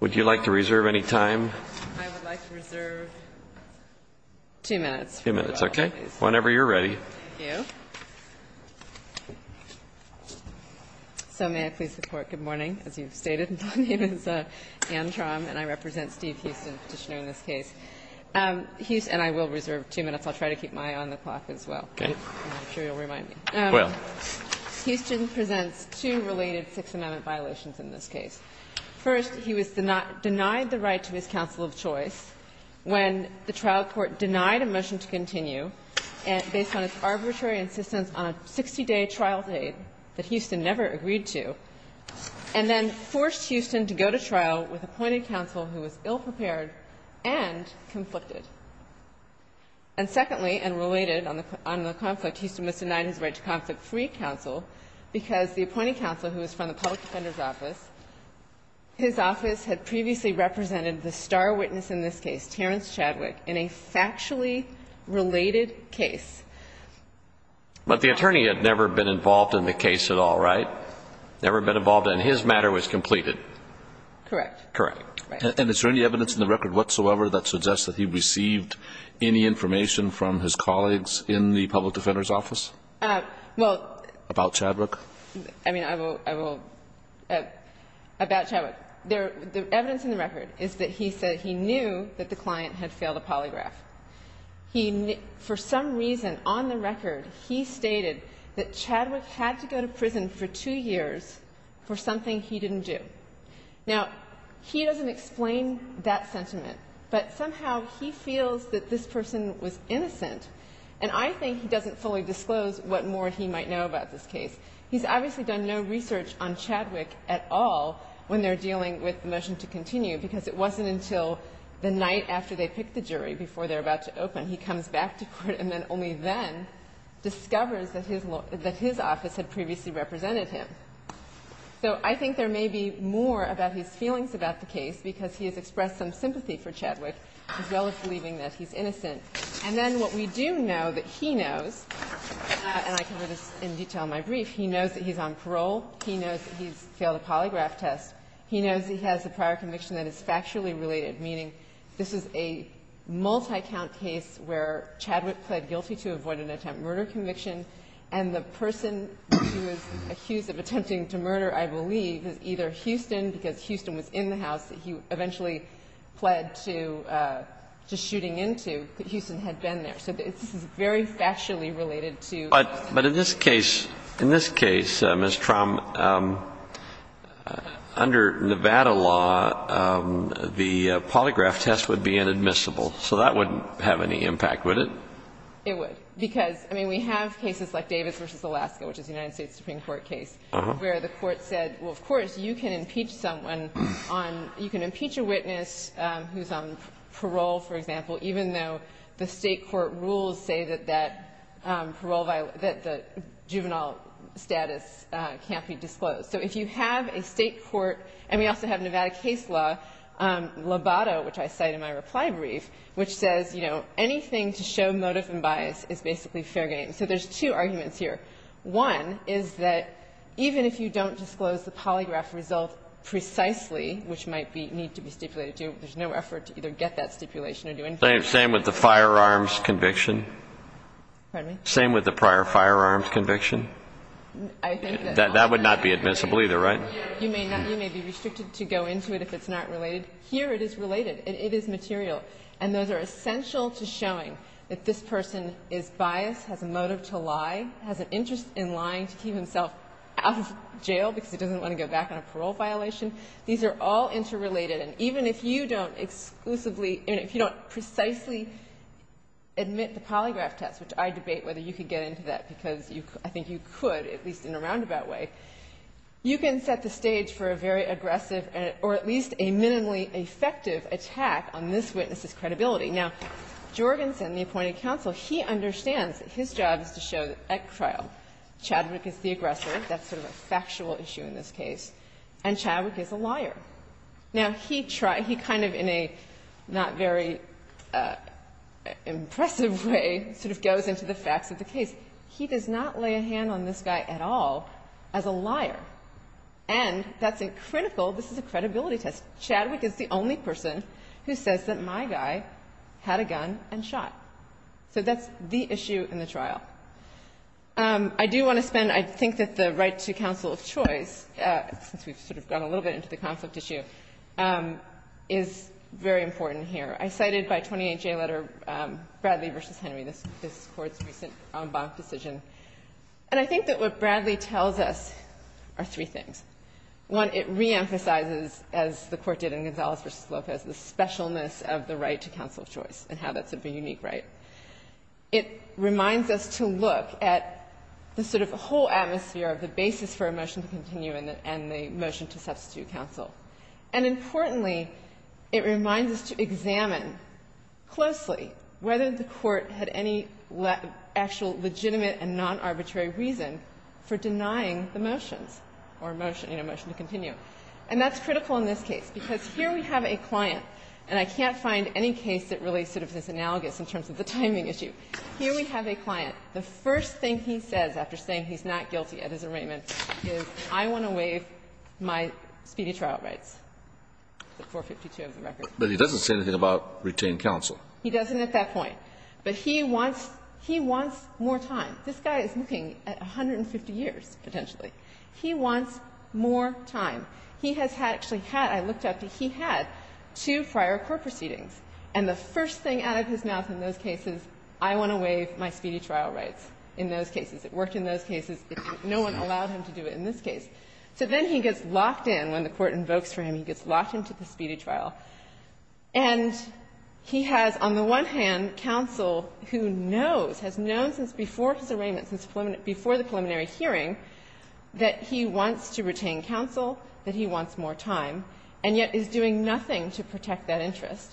Would you like to reserve any time? I would like to reserve two minutes. Two minutes, okay. Whenever you're ready. Thank you. So may I please report good morning? As you've stated, my name is Anne Traum, and I represent Steve Houston, Petitioner in this case. And I will reserve two minutes. I'll try to keep my eye on the clock as well. Okay. I'm sure you'll remind me. Well. Houston presents two related Sixth Amendment violations in this case. First, he was denied the right to his counsel of choice when the trial court denied a motion to continue based on its arbitrary insistence on a 60-day trial date that Houston never agreed to, and then forced Houston to go to trial with appointed counsel who was ill-prepared and conflicted. And secondly, and related on the conflict, Houston was denied his right to conflict-free counsel because the appointed counsel, who was from the public defender's office, his office had previously represented the star witness in this case, Terrence Chadwick, in a factually related case. But the attorney had never been involved in the case at all, right? Never been involved, and his matter was completed. Correct. Correct. And is there any evidence in the record whatsoever that suggests that he received any information from his colleagues in the public defender's office? Well. About Chadwick? I mean, I will, I will. About Chadwick. The evidence in the record is that he said he knew that the client had failed a polygraph. He, for some reason on the record, he stated that Chadwick had to go to prison for two years for something he didn't do. Now, he doesn't explain that sentiment, but somehow he feels that this person was know about this case. He's obviously done no research on Chadwick at all when they're dealing with the motion to continue because it wasn't until the night after they picked the jury, before they're about to open, he comes back to court and then only then discovers that his office had previously represented him. So I think there may be more about his feelings about the case because he has expressed some sympathy for Chadwick as well as believing that he's innocent. And then what we do know that he knows, and I cover this in detail in my brief, he knows that he's on parole. He knows that he's failed a polygraph test. He knows he has a prior conviction that is factually related, meaning this is a multi-count case where Chadwick pled guilty to avoid an attempt murder conviction, and the person he was accused of attempting to murder, I believe, is either Houston because Houston was in the house that he eventually pled to shooting into. Houston had been there. So this is very factually related to that. But in this case, in this case, Ms. Trom, under Nevada law, the polygraph test would be inadmissible, so that wouldn't have any impact, would it? It would. Because, I mean, we have cases like Davis v. Alaska, which is a United States Supreme Court case, where the Court said, well, of course, you can impeach someone on you can impeach a witness who's on parole, for example, even though the State court rules say that that parole that the juvenile status can't be disclosed. So if you have a State court, and we also have Nevada case law, Lobato, which I cite in my reply brief, which says, you know, anything to show motive and bias is basically fair game. So there's two arguments here. One is that even if you don't disclose the polygraph result precisely, which might be need to be stipulated to, there's no effort to either get that stipulation or do anything else. Same with the firearms conviction? Pardon me? Same with the prior firearms conviction? I think that's all. That would not be admissible either, right? You may not. You may be restricted to go into it if it's not related. Here it is related. It is material. And those are essential to showing that this person is biased, has a motive to lie, has an interest in lying to keep himself out of jail because he doesn't want to go back on a parole violation. These are all interrelated. And even if you don't exclusively or if you don't precisely admit the polygraph test, which I debate whether you could get into that because I think you could, at least in a roundabout way, you can set the stage for a very aggressive or at least a minimally effective attack on this witness's credibility. Now, Jorgensen, the appointed counsel, he understands that his job is to show at trial Chadwick is the aggressor. That's sort of a factual issue in this case. And Chadwick is a liar. Now, he tried to kind of in a not very impressive way sort of goes into the facts of the case. He does not lay a hand on this guy at all as a liar. And that's a critical, this is a credibility test. Chadwick is the only person who says that my guy had a gun and shot. So that's the issue in the trial. I do want to spend, I think that the right to counsel of choice, since we've sort of gone a little bit into the conflict issue, is very important here. I cited by 28J letter, Bradley v. Henry, this Court's recent en banc decision. And I think that what Bradley tells us are three things. One, it reemphasizes, as the Court did in Gonzalez v. Lopez, the specialness of the right to counsel of choice and how that's a unique right. It reminds us to look at the sort of whole atmosphere of the basis for a motion to continue and the motion to substitute counsel. And importantly, it reminds us to examine closely whether the Court had any actual legitimate and non-arbitrary reason for denying the motions or motion to continue. And that's critical in this case, because here we have a client. And I can't find any case that really sort of is analogous in terms of the timing issue. Here we have a client. The first thing he says after saying he's not guilty at his arraignment is, I want to waive my speedy trial rights, 452 of the record. But he doesn't say anything about retain counsel. He doesn't at that point. But he wants more time. This guy is looking at 150 years, potentially. He wants more time. He has actually had, I looked up, he had two prior court proceedings. And the first thing out of his mouth in those cases, I want to waive my speedy trial rights, in those cases. It worked in those cases. No one allowed him to do it in this case. So then he gets locked in. When the Court invokes for him, he gets locked into the speedy trial. And he has, on the one hand, counsel who knows, has known since before his arraignment, since before the preliminary hearing, that he wants to retain counsel, that he wants more time, and yet is doing nothing to protect that interest.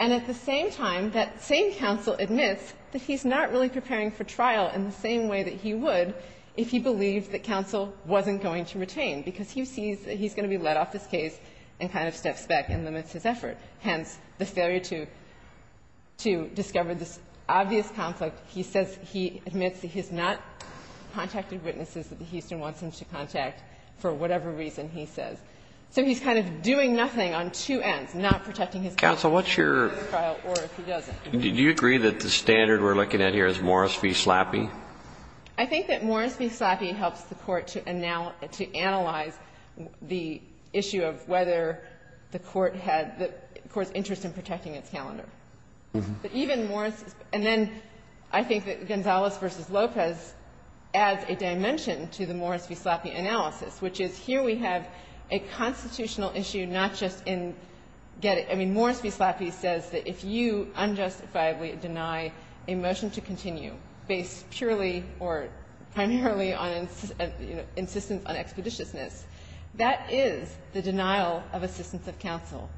And at the same time, that same counsel admits that he's not really preparing for trial in the same way that he would if he believed that counsel wasn't going to retain, because he sees that he's going to be let off this case and kind of steps back and limits his effort. Hence, the failure to discover this obvious conflict. He says he admits that he's not contacted witnesses that the Houston wants him to contact for whatever reason, he says. So he's kind of doing nothing on two ends, not protecting his counsel. Kennedy. Counsel, what's your ---- Or if he doesn't. Did you agree that the standard we're looking at here is Morris v. Slappi? I think that Morris v. Slappi helps the Court to analyze the issue of whether the Court had the Court's interest in protecting its calendar. But even Morris ---- and then I think that Gonzalez v. Lopez adds a dimension to the Morris v. Slappi analysis, which is here we have a constitutional issue, not just in getting ---- I mean, Morris v. Slappi says that if you unjustifiably deny a motion to continue based purely or primarily on insistence on expeditiousness, that is the denial of assistance of counsel.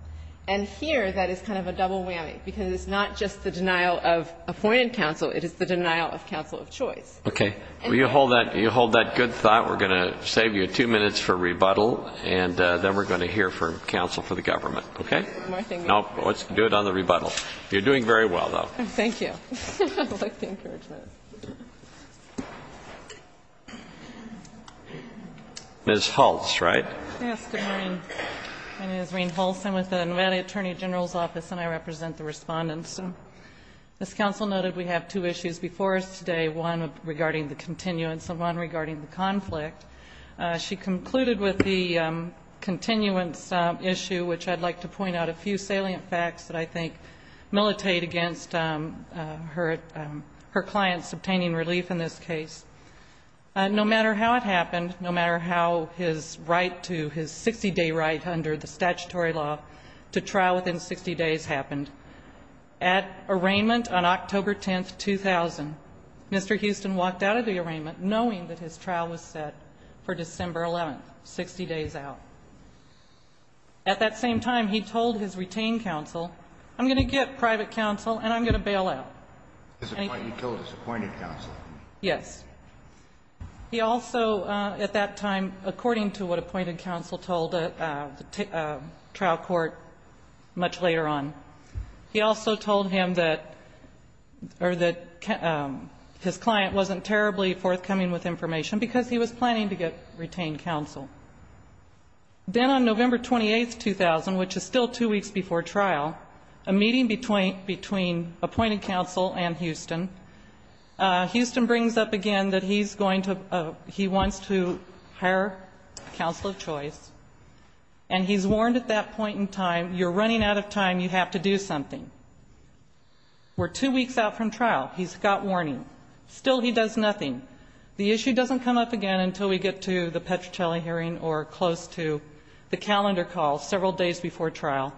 And here that is kind of a double whammy, because it's not just the denial of appointed counsel, it is the denial of counsel of choice. Okay. You hold that good thought. We're going to save you two minutes for rebuttal, and then we're going to hear from counsel for the government. Okay? One more thing. No. Let's do it on the rebuttal. You're doing very well, though. Thank you. I like the encouragement. Ms. Hulse, right? Yes. Good morning. My name is Reen Hulse. I'm with the Nevada Attorney General's Office, and I represent the Respondents. As counsel noted, we have two issues before us today, one regarding the continuance and one regarding the conflict. She concluded with the continuance issue, which I'd like to point out a few salient facts that I think militate against her client's obtaining relief in this case. No matter how it happened, no matter how his right to his 60-day right under the statutory law to trial within 60 days happened, at arraignment on October 10th, 2000, Mr. Houston walked out of the arraignment knowing that his trial was set for December 11th, 60 days out. At that same time, he told his retained counsel, I'm going to get private counsel and I'm going to bail out. He told his appointed counsel. Yes. He also at that time, according to what appointed counsel told the trial court much later on, he also told him that his client wasn't terribly forthcoming with information because he was planning to get retained counsel. Then on November 28th, 2000, which is still two weeks before trial, a meeting between appointed counsel and Houston, Houston brings up again that he's going to he wants to hire counsel of choice, and he's warned at that point in time, you're running out of time, you have to do something. We're two weeks out from trial. He's got warning. Still he does nothing. The issue doesn't come up again until we get to the Petrocelli hearing or close to the calendar call several days before trial,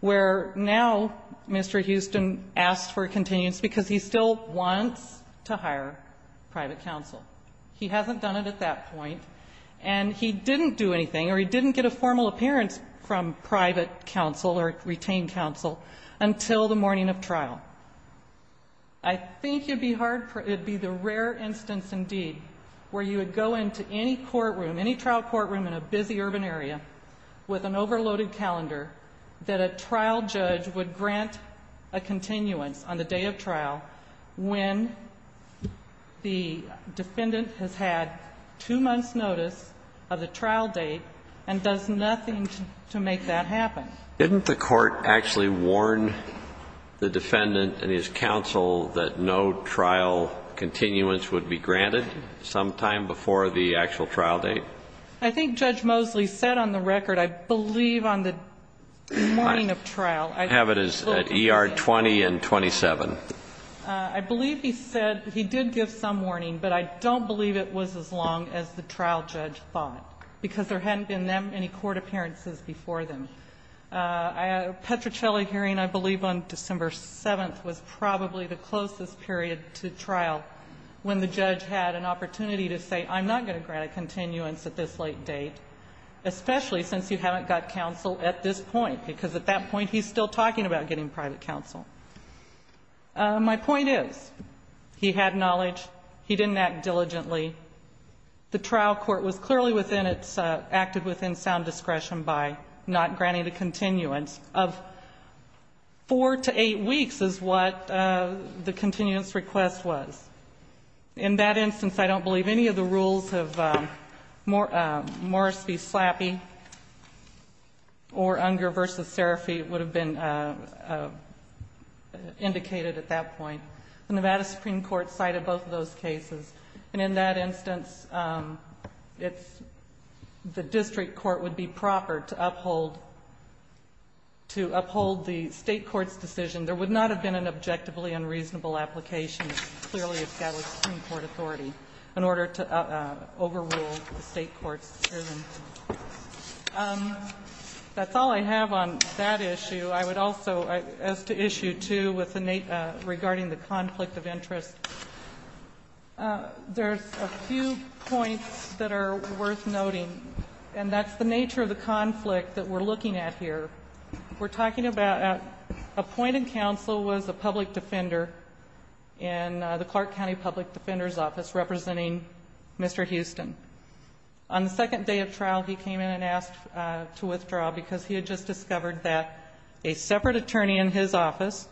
where now Mr. Houston asks for a continuance because he still wants to hire private counsel. He hasn't done it at that point, and he didn't do anything or he didn't get a formal appearance from private counsel or retained counsel until the morning of trial. I think it would be the rare instance indeed where you would go into any courtroom, any trial courtroom in a busy urban area with an overloaded calendar that a trial judge would grant a continuance on the day of trial when the defendant has had two months' notice of the trial date and does nothing to make that happen. Didn't the Court actually warn the defendant and his counsel that no trial continuance would be granted sometime before the actual trial date? I think Judge Mosley said on the record, I believe on the morning of trial. I have it as ER 20 and 27. I believe he said he did give some warning, but I don't believe it was as long as the trial judge thought, because there hadn't been that many court appearances before then. Petrocelli hearing, I believe on December 7th, was probably the closest period to trial when the judge had an opportunity to say, I'm not going to grant a continuance at this late date, especially since you haven't got counsel at this point, because at that point he's still talking about getting private counsel. My point is, he had knowledge. He didn't act diligently. The trial court was clearly within its, acted within sound discretion by not granting the continuance of four to eight weeks is what the continuance request was. In that instance, I don't believe any of the rules of Morris v. Slappy or Unger v. Serafi would have been indicated at that point. The Nevada Supreme Court cited both of those cases. And in that instance, it's, the district court would be proper to uphold, to uphold the State court's decision. There would not have been an objectively unreasonable application, clearly of the Nevada Supreme Court authority, in order to overrule the State court's decision. That's all I have on that issue. I would also, as to issue two with the, regarding the conflict of interest, there's a few points that are worth noting, and that's the nature of the conflict that we're looking at here. We're talking about appointed counsel was a public defender in the Clark County Public Defender's Office representing Mr. Houston. On the second day of trial, he came in and asked to withdraw because he had just discovered that a separate attorney in his office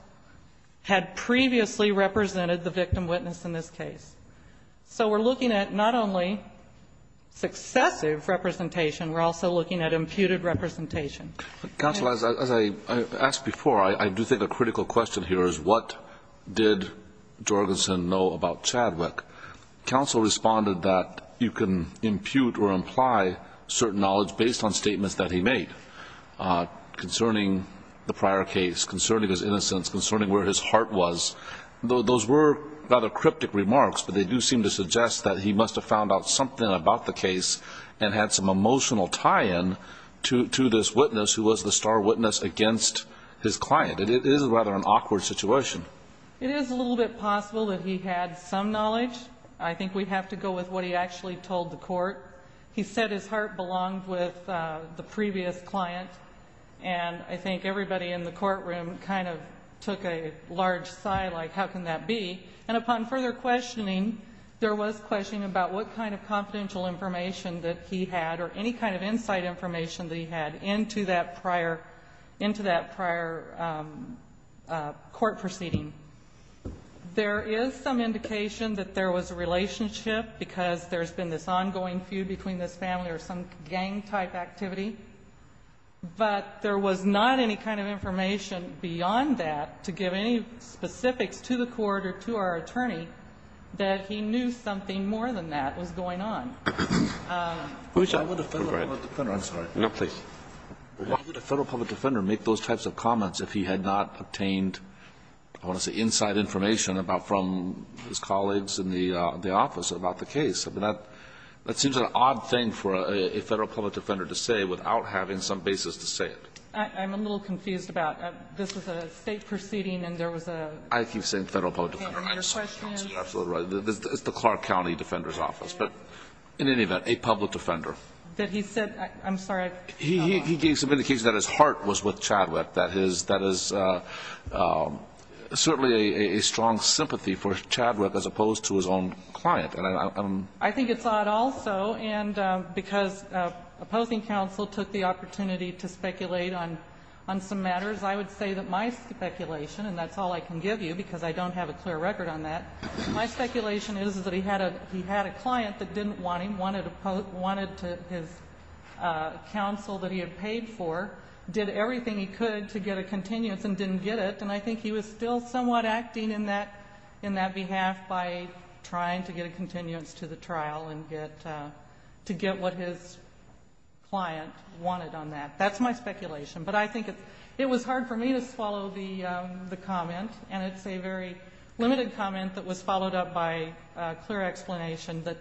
had previously represented the victim witness in this case. So we're looking at not only successive representation, we're also looking at imputed representation. Counsel, as I asked before, I do think a critical question here is what did Jorgensen know about Chadwick? Counsel responded that you can impute or imply certain knowledge based on statements that he made concerning the prior case, concerning his innocence, concerning where his heart was. Those were rather cryptic remarks, but they do seem to suggest that he must have found out something about the case and had some emotional tie-in to this witness who was the star witness against his client. It is rather an awkward situation. It is a little bit possible that he had some knowledge. I think we have to go with what he actually told the court. He said his heart belonged with the previous client, and I think everybody in the courtroom kind of took a large sigh like, how can that be? And upon further questioning, there was questioning about what kind of confidential information that he had or any kind of insight information that he had into that prior court proceeding. There is some indication that there was a relationship because there's been this ongoing feud between this family or some gang-type activity. But there was not any kind of information beyond that to give any specifics to the court or to our attorney that he knew something more than that was going on. I'm sorry. No, please. Why would a Federal public defender make those types of comments if he had not obtained, I want to say, inside information from his colleagues in the office about the case? I mean, that seems like an odd thing for a Federal public defender to say without having some basis to say it. I'm a little confused about this was a State proceeding and there was a question. I keep saying Federal public defender. I'm sorry. Absolutely right. It's the Clark County Defender's Office. But in any event, a public defender. That he said – I'm sorry. He gave some indication that his heart was with Chadwick, that his – that is certainly a strong sympathy for Chadwick as opposed to his own client. I think it's odd also, and because opposing counsel took the opportunity to speculate on some matters, I would say that my speculation, and that's all I can give you because I don't have a clear record on that, my speculation is that he had a client that didn't want him, wanted his counsel that he had paid for, did everything he could to get a continuance and didn't get it. And I think he was still somewhat acting in that behalf by trying to get a continuance to the trial and get – to get what his client wanted on that. That's my speculation. But I think it was hard for me to swallow the comment, and it's a very limited comment that was followed up by a clear explanation that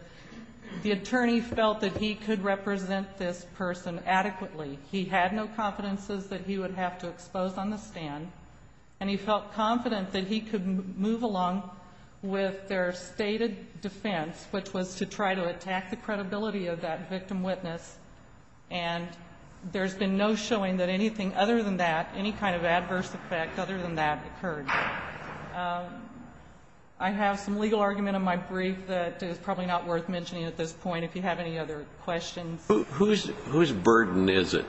the attorney felt that he could represent this person adequately. He had no confidences that he would have to expose on the stand, and he felt confident that he could move along with their stated defense, which was to try to attack the credibility of that victim witness. And there's been no showing that anything other than that, any kind of adverse effect other than that occurred. I have some legal argument in my brief that is probably not worth mentioning at this point, if you have any other questions. Who's burden is it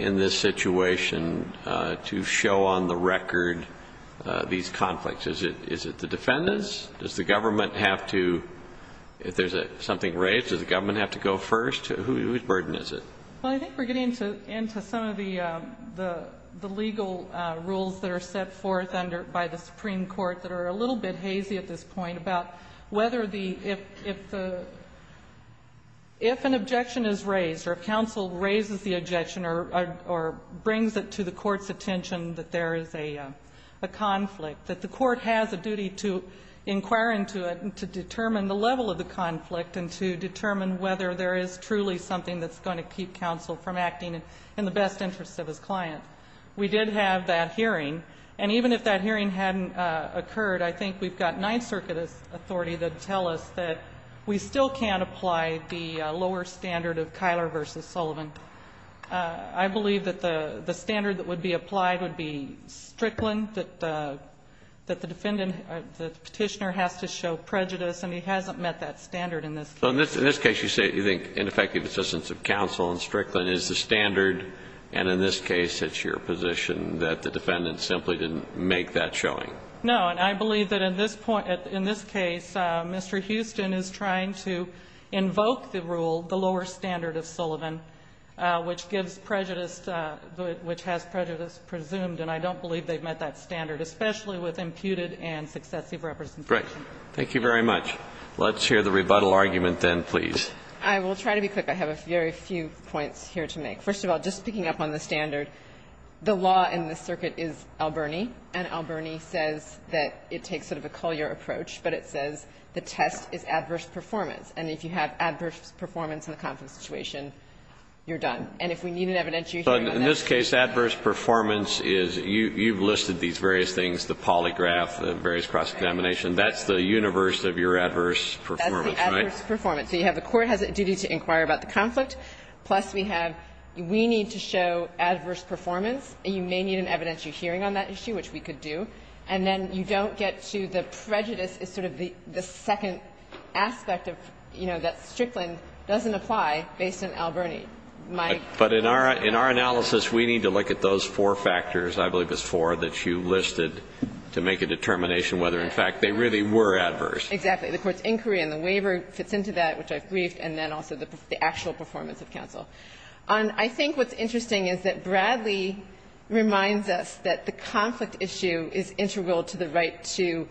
in this situation to show on the record these conflicts? Is it the defendants? Does the government have to – if there's something raised, does the government have to go first? Whose burden is it? Well, I think we're getting into some of the legal rules that are set forth under – by the Supreme Court that are a little bit hazy at this point about whether the – if the – if an objection is raised or counsel raises the objection or brings it to the court's attention that there is a conflict, that the court has a duty to inquire into it and to determine the level of the conflict and to determine whether there is truly something that's going to keep counsel from acting in the best interest of his client. We did have that hearing. And even if that hearing hadn't occurred, I think we've got Ninth Circuit authority that tell us that we still can't apply the lower standard of Kyler v. Sullivan. I believe that the standard that would be applied would be Strickland, that the defendant – that the Petitioner has to show prejudice, and he hasn't met that standard in this case. So in this case you say you think ineffective assistance of counsel in Strickland is the standard, and in this case it's your position that the defendant simply didn't make that showing. No. And I believe that in this point – in this case, Mr. Houston is trying to invoke the rule, the lower standard of Sullivan, which gives prejudice – which has prejudice presumed. And I don't believe they've met that standard, especially with imputed and successive representation. Great. Thank you very much. Let's hear the rebuttal argument then, please. I will try to be quick. I have a very few points here to make. First of all, just picking up on the standard, the law in this circuit is Alberni, and Alberni says that it takes sort of a Collier approach, but it says the test is adverse performance. And if you have adverse performance in a conflict situation, you're done. And if we need an evidentiary hearing on that. But in this case, adverse performance is – you've listed these various things, the polygraph, the various cross-examination. That's the universe of your adverse performance, right? That's the adverse performance. So you have the court has a duty to inquire about the conflict, plus we have we need to show adverse performance, and you may need an evidentiary hearing on that issue, which we could do. And then you don't get to the prejudice is sort of the second aspect of, you know, that Strickland doesn't apply based on Alberni. But in our analysis, we need to look at those four factors, I believe it's four, that you listed to make a determination whether, in fact, they really were adverse. Exactly. The court's inquiry and the waiver fits into that, which I've briefed, and then also the actual performance of counsel. I think what's interesting is that Bradley reminds us that the conflict issue is integral to the right to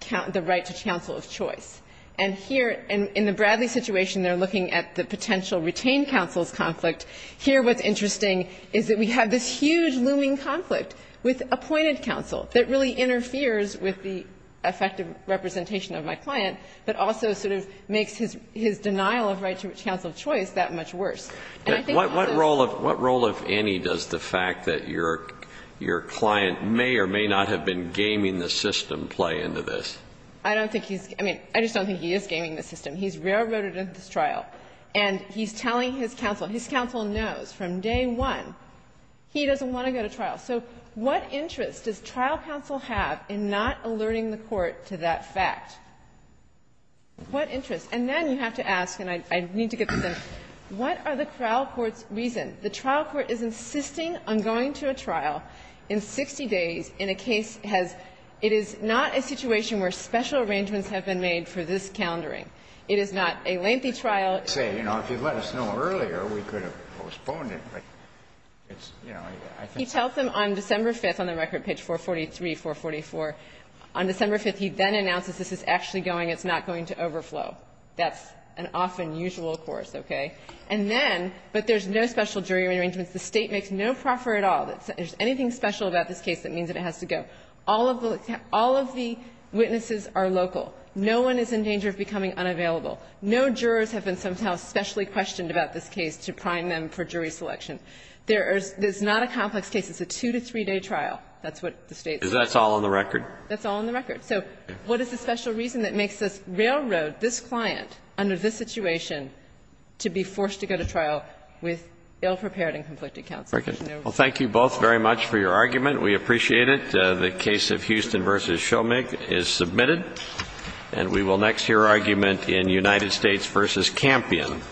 counsel of choice. And here, in the Bradley situation, they're looking at the potential retained counsel's conflict. Here, what's interesting is that we have this huge looming conflict with appointed counsel that really interferes with the effective representation of my client, but also sort of makes his denial of right to counsel of choice that much worse. And I think also the fact that your client may or may not have been gaming the system play into this. I don't think he's. I mean, I just don't think he is gaming the system. He's railroaded into this trial, and he's telling his counsel. His counsel knows from day one he doesn't want to go to trial. So what interest does trial counsel have in not alerting the court to that fact? What interest? And then you have to ask, and I need to get this in, what are the trial court's reasons? The trial court is insisting on going to a trial in 60 days in a case has — it is not a situation where special arrangements have been made for this calendaring. It is not a lengthy trial. Kennedy, you know, if you'd let us know earlier, we could have postponed it. But it's, you know, I think — He tells them on December 5th on the record page 443, 444. On December 5th, he then announces this is actually going, it's not going to overflow. That's an often usual course, okay? And then, but there's no special jury arrangements. The State makes no proffer at all that there's anything special about this case that means that it has to go. All of the witnesses are local. No one is in danger of becoming unavailable. No jurors have been somehow specially questioned about this case to prime them for jury selection. There is not a complex case. It's a two- to three-day trial. That's what the State says. That's all on the record? That's all on the record. So what is the special reason that makes us railroad this client under this situation to be forced to go to trial with ill-prepared and conflicted counsel? There's no reason. Well, thank you both very much for your argument. We appreciate it. The case of Houston v. Shomig is submitted. And we will next hear argument in United States v. Campion.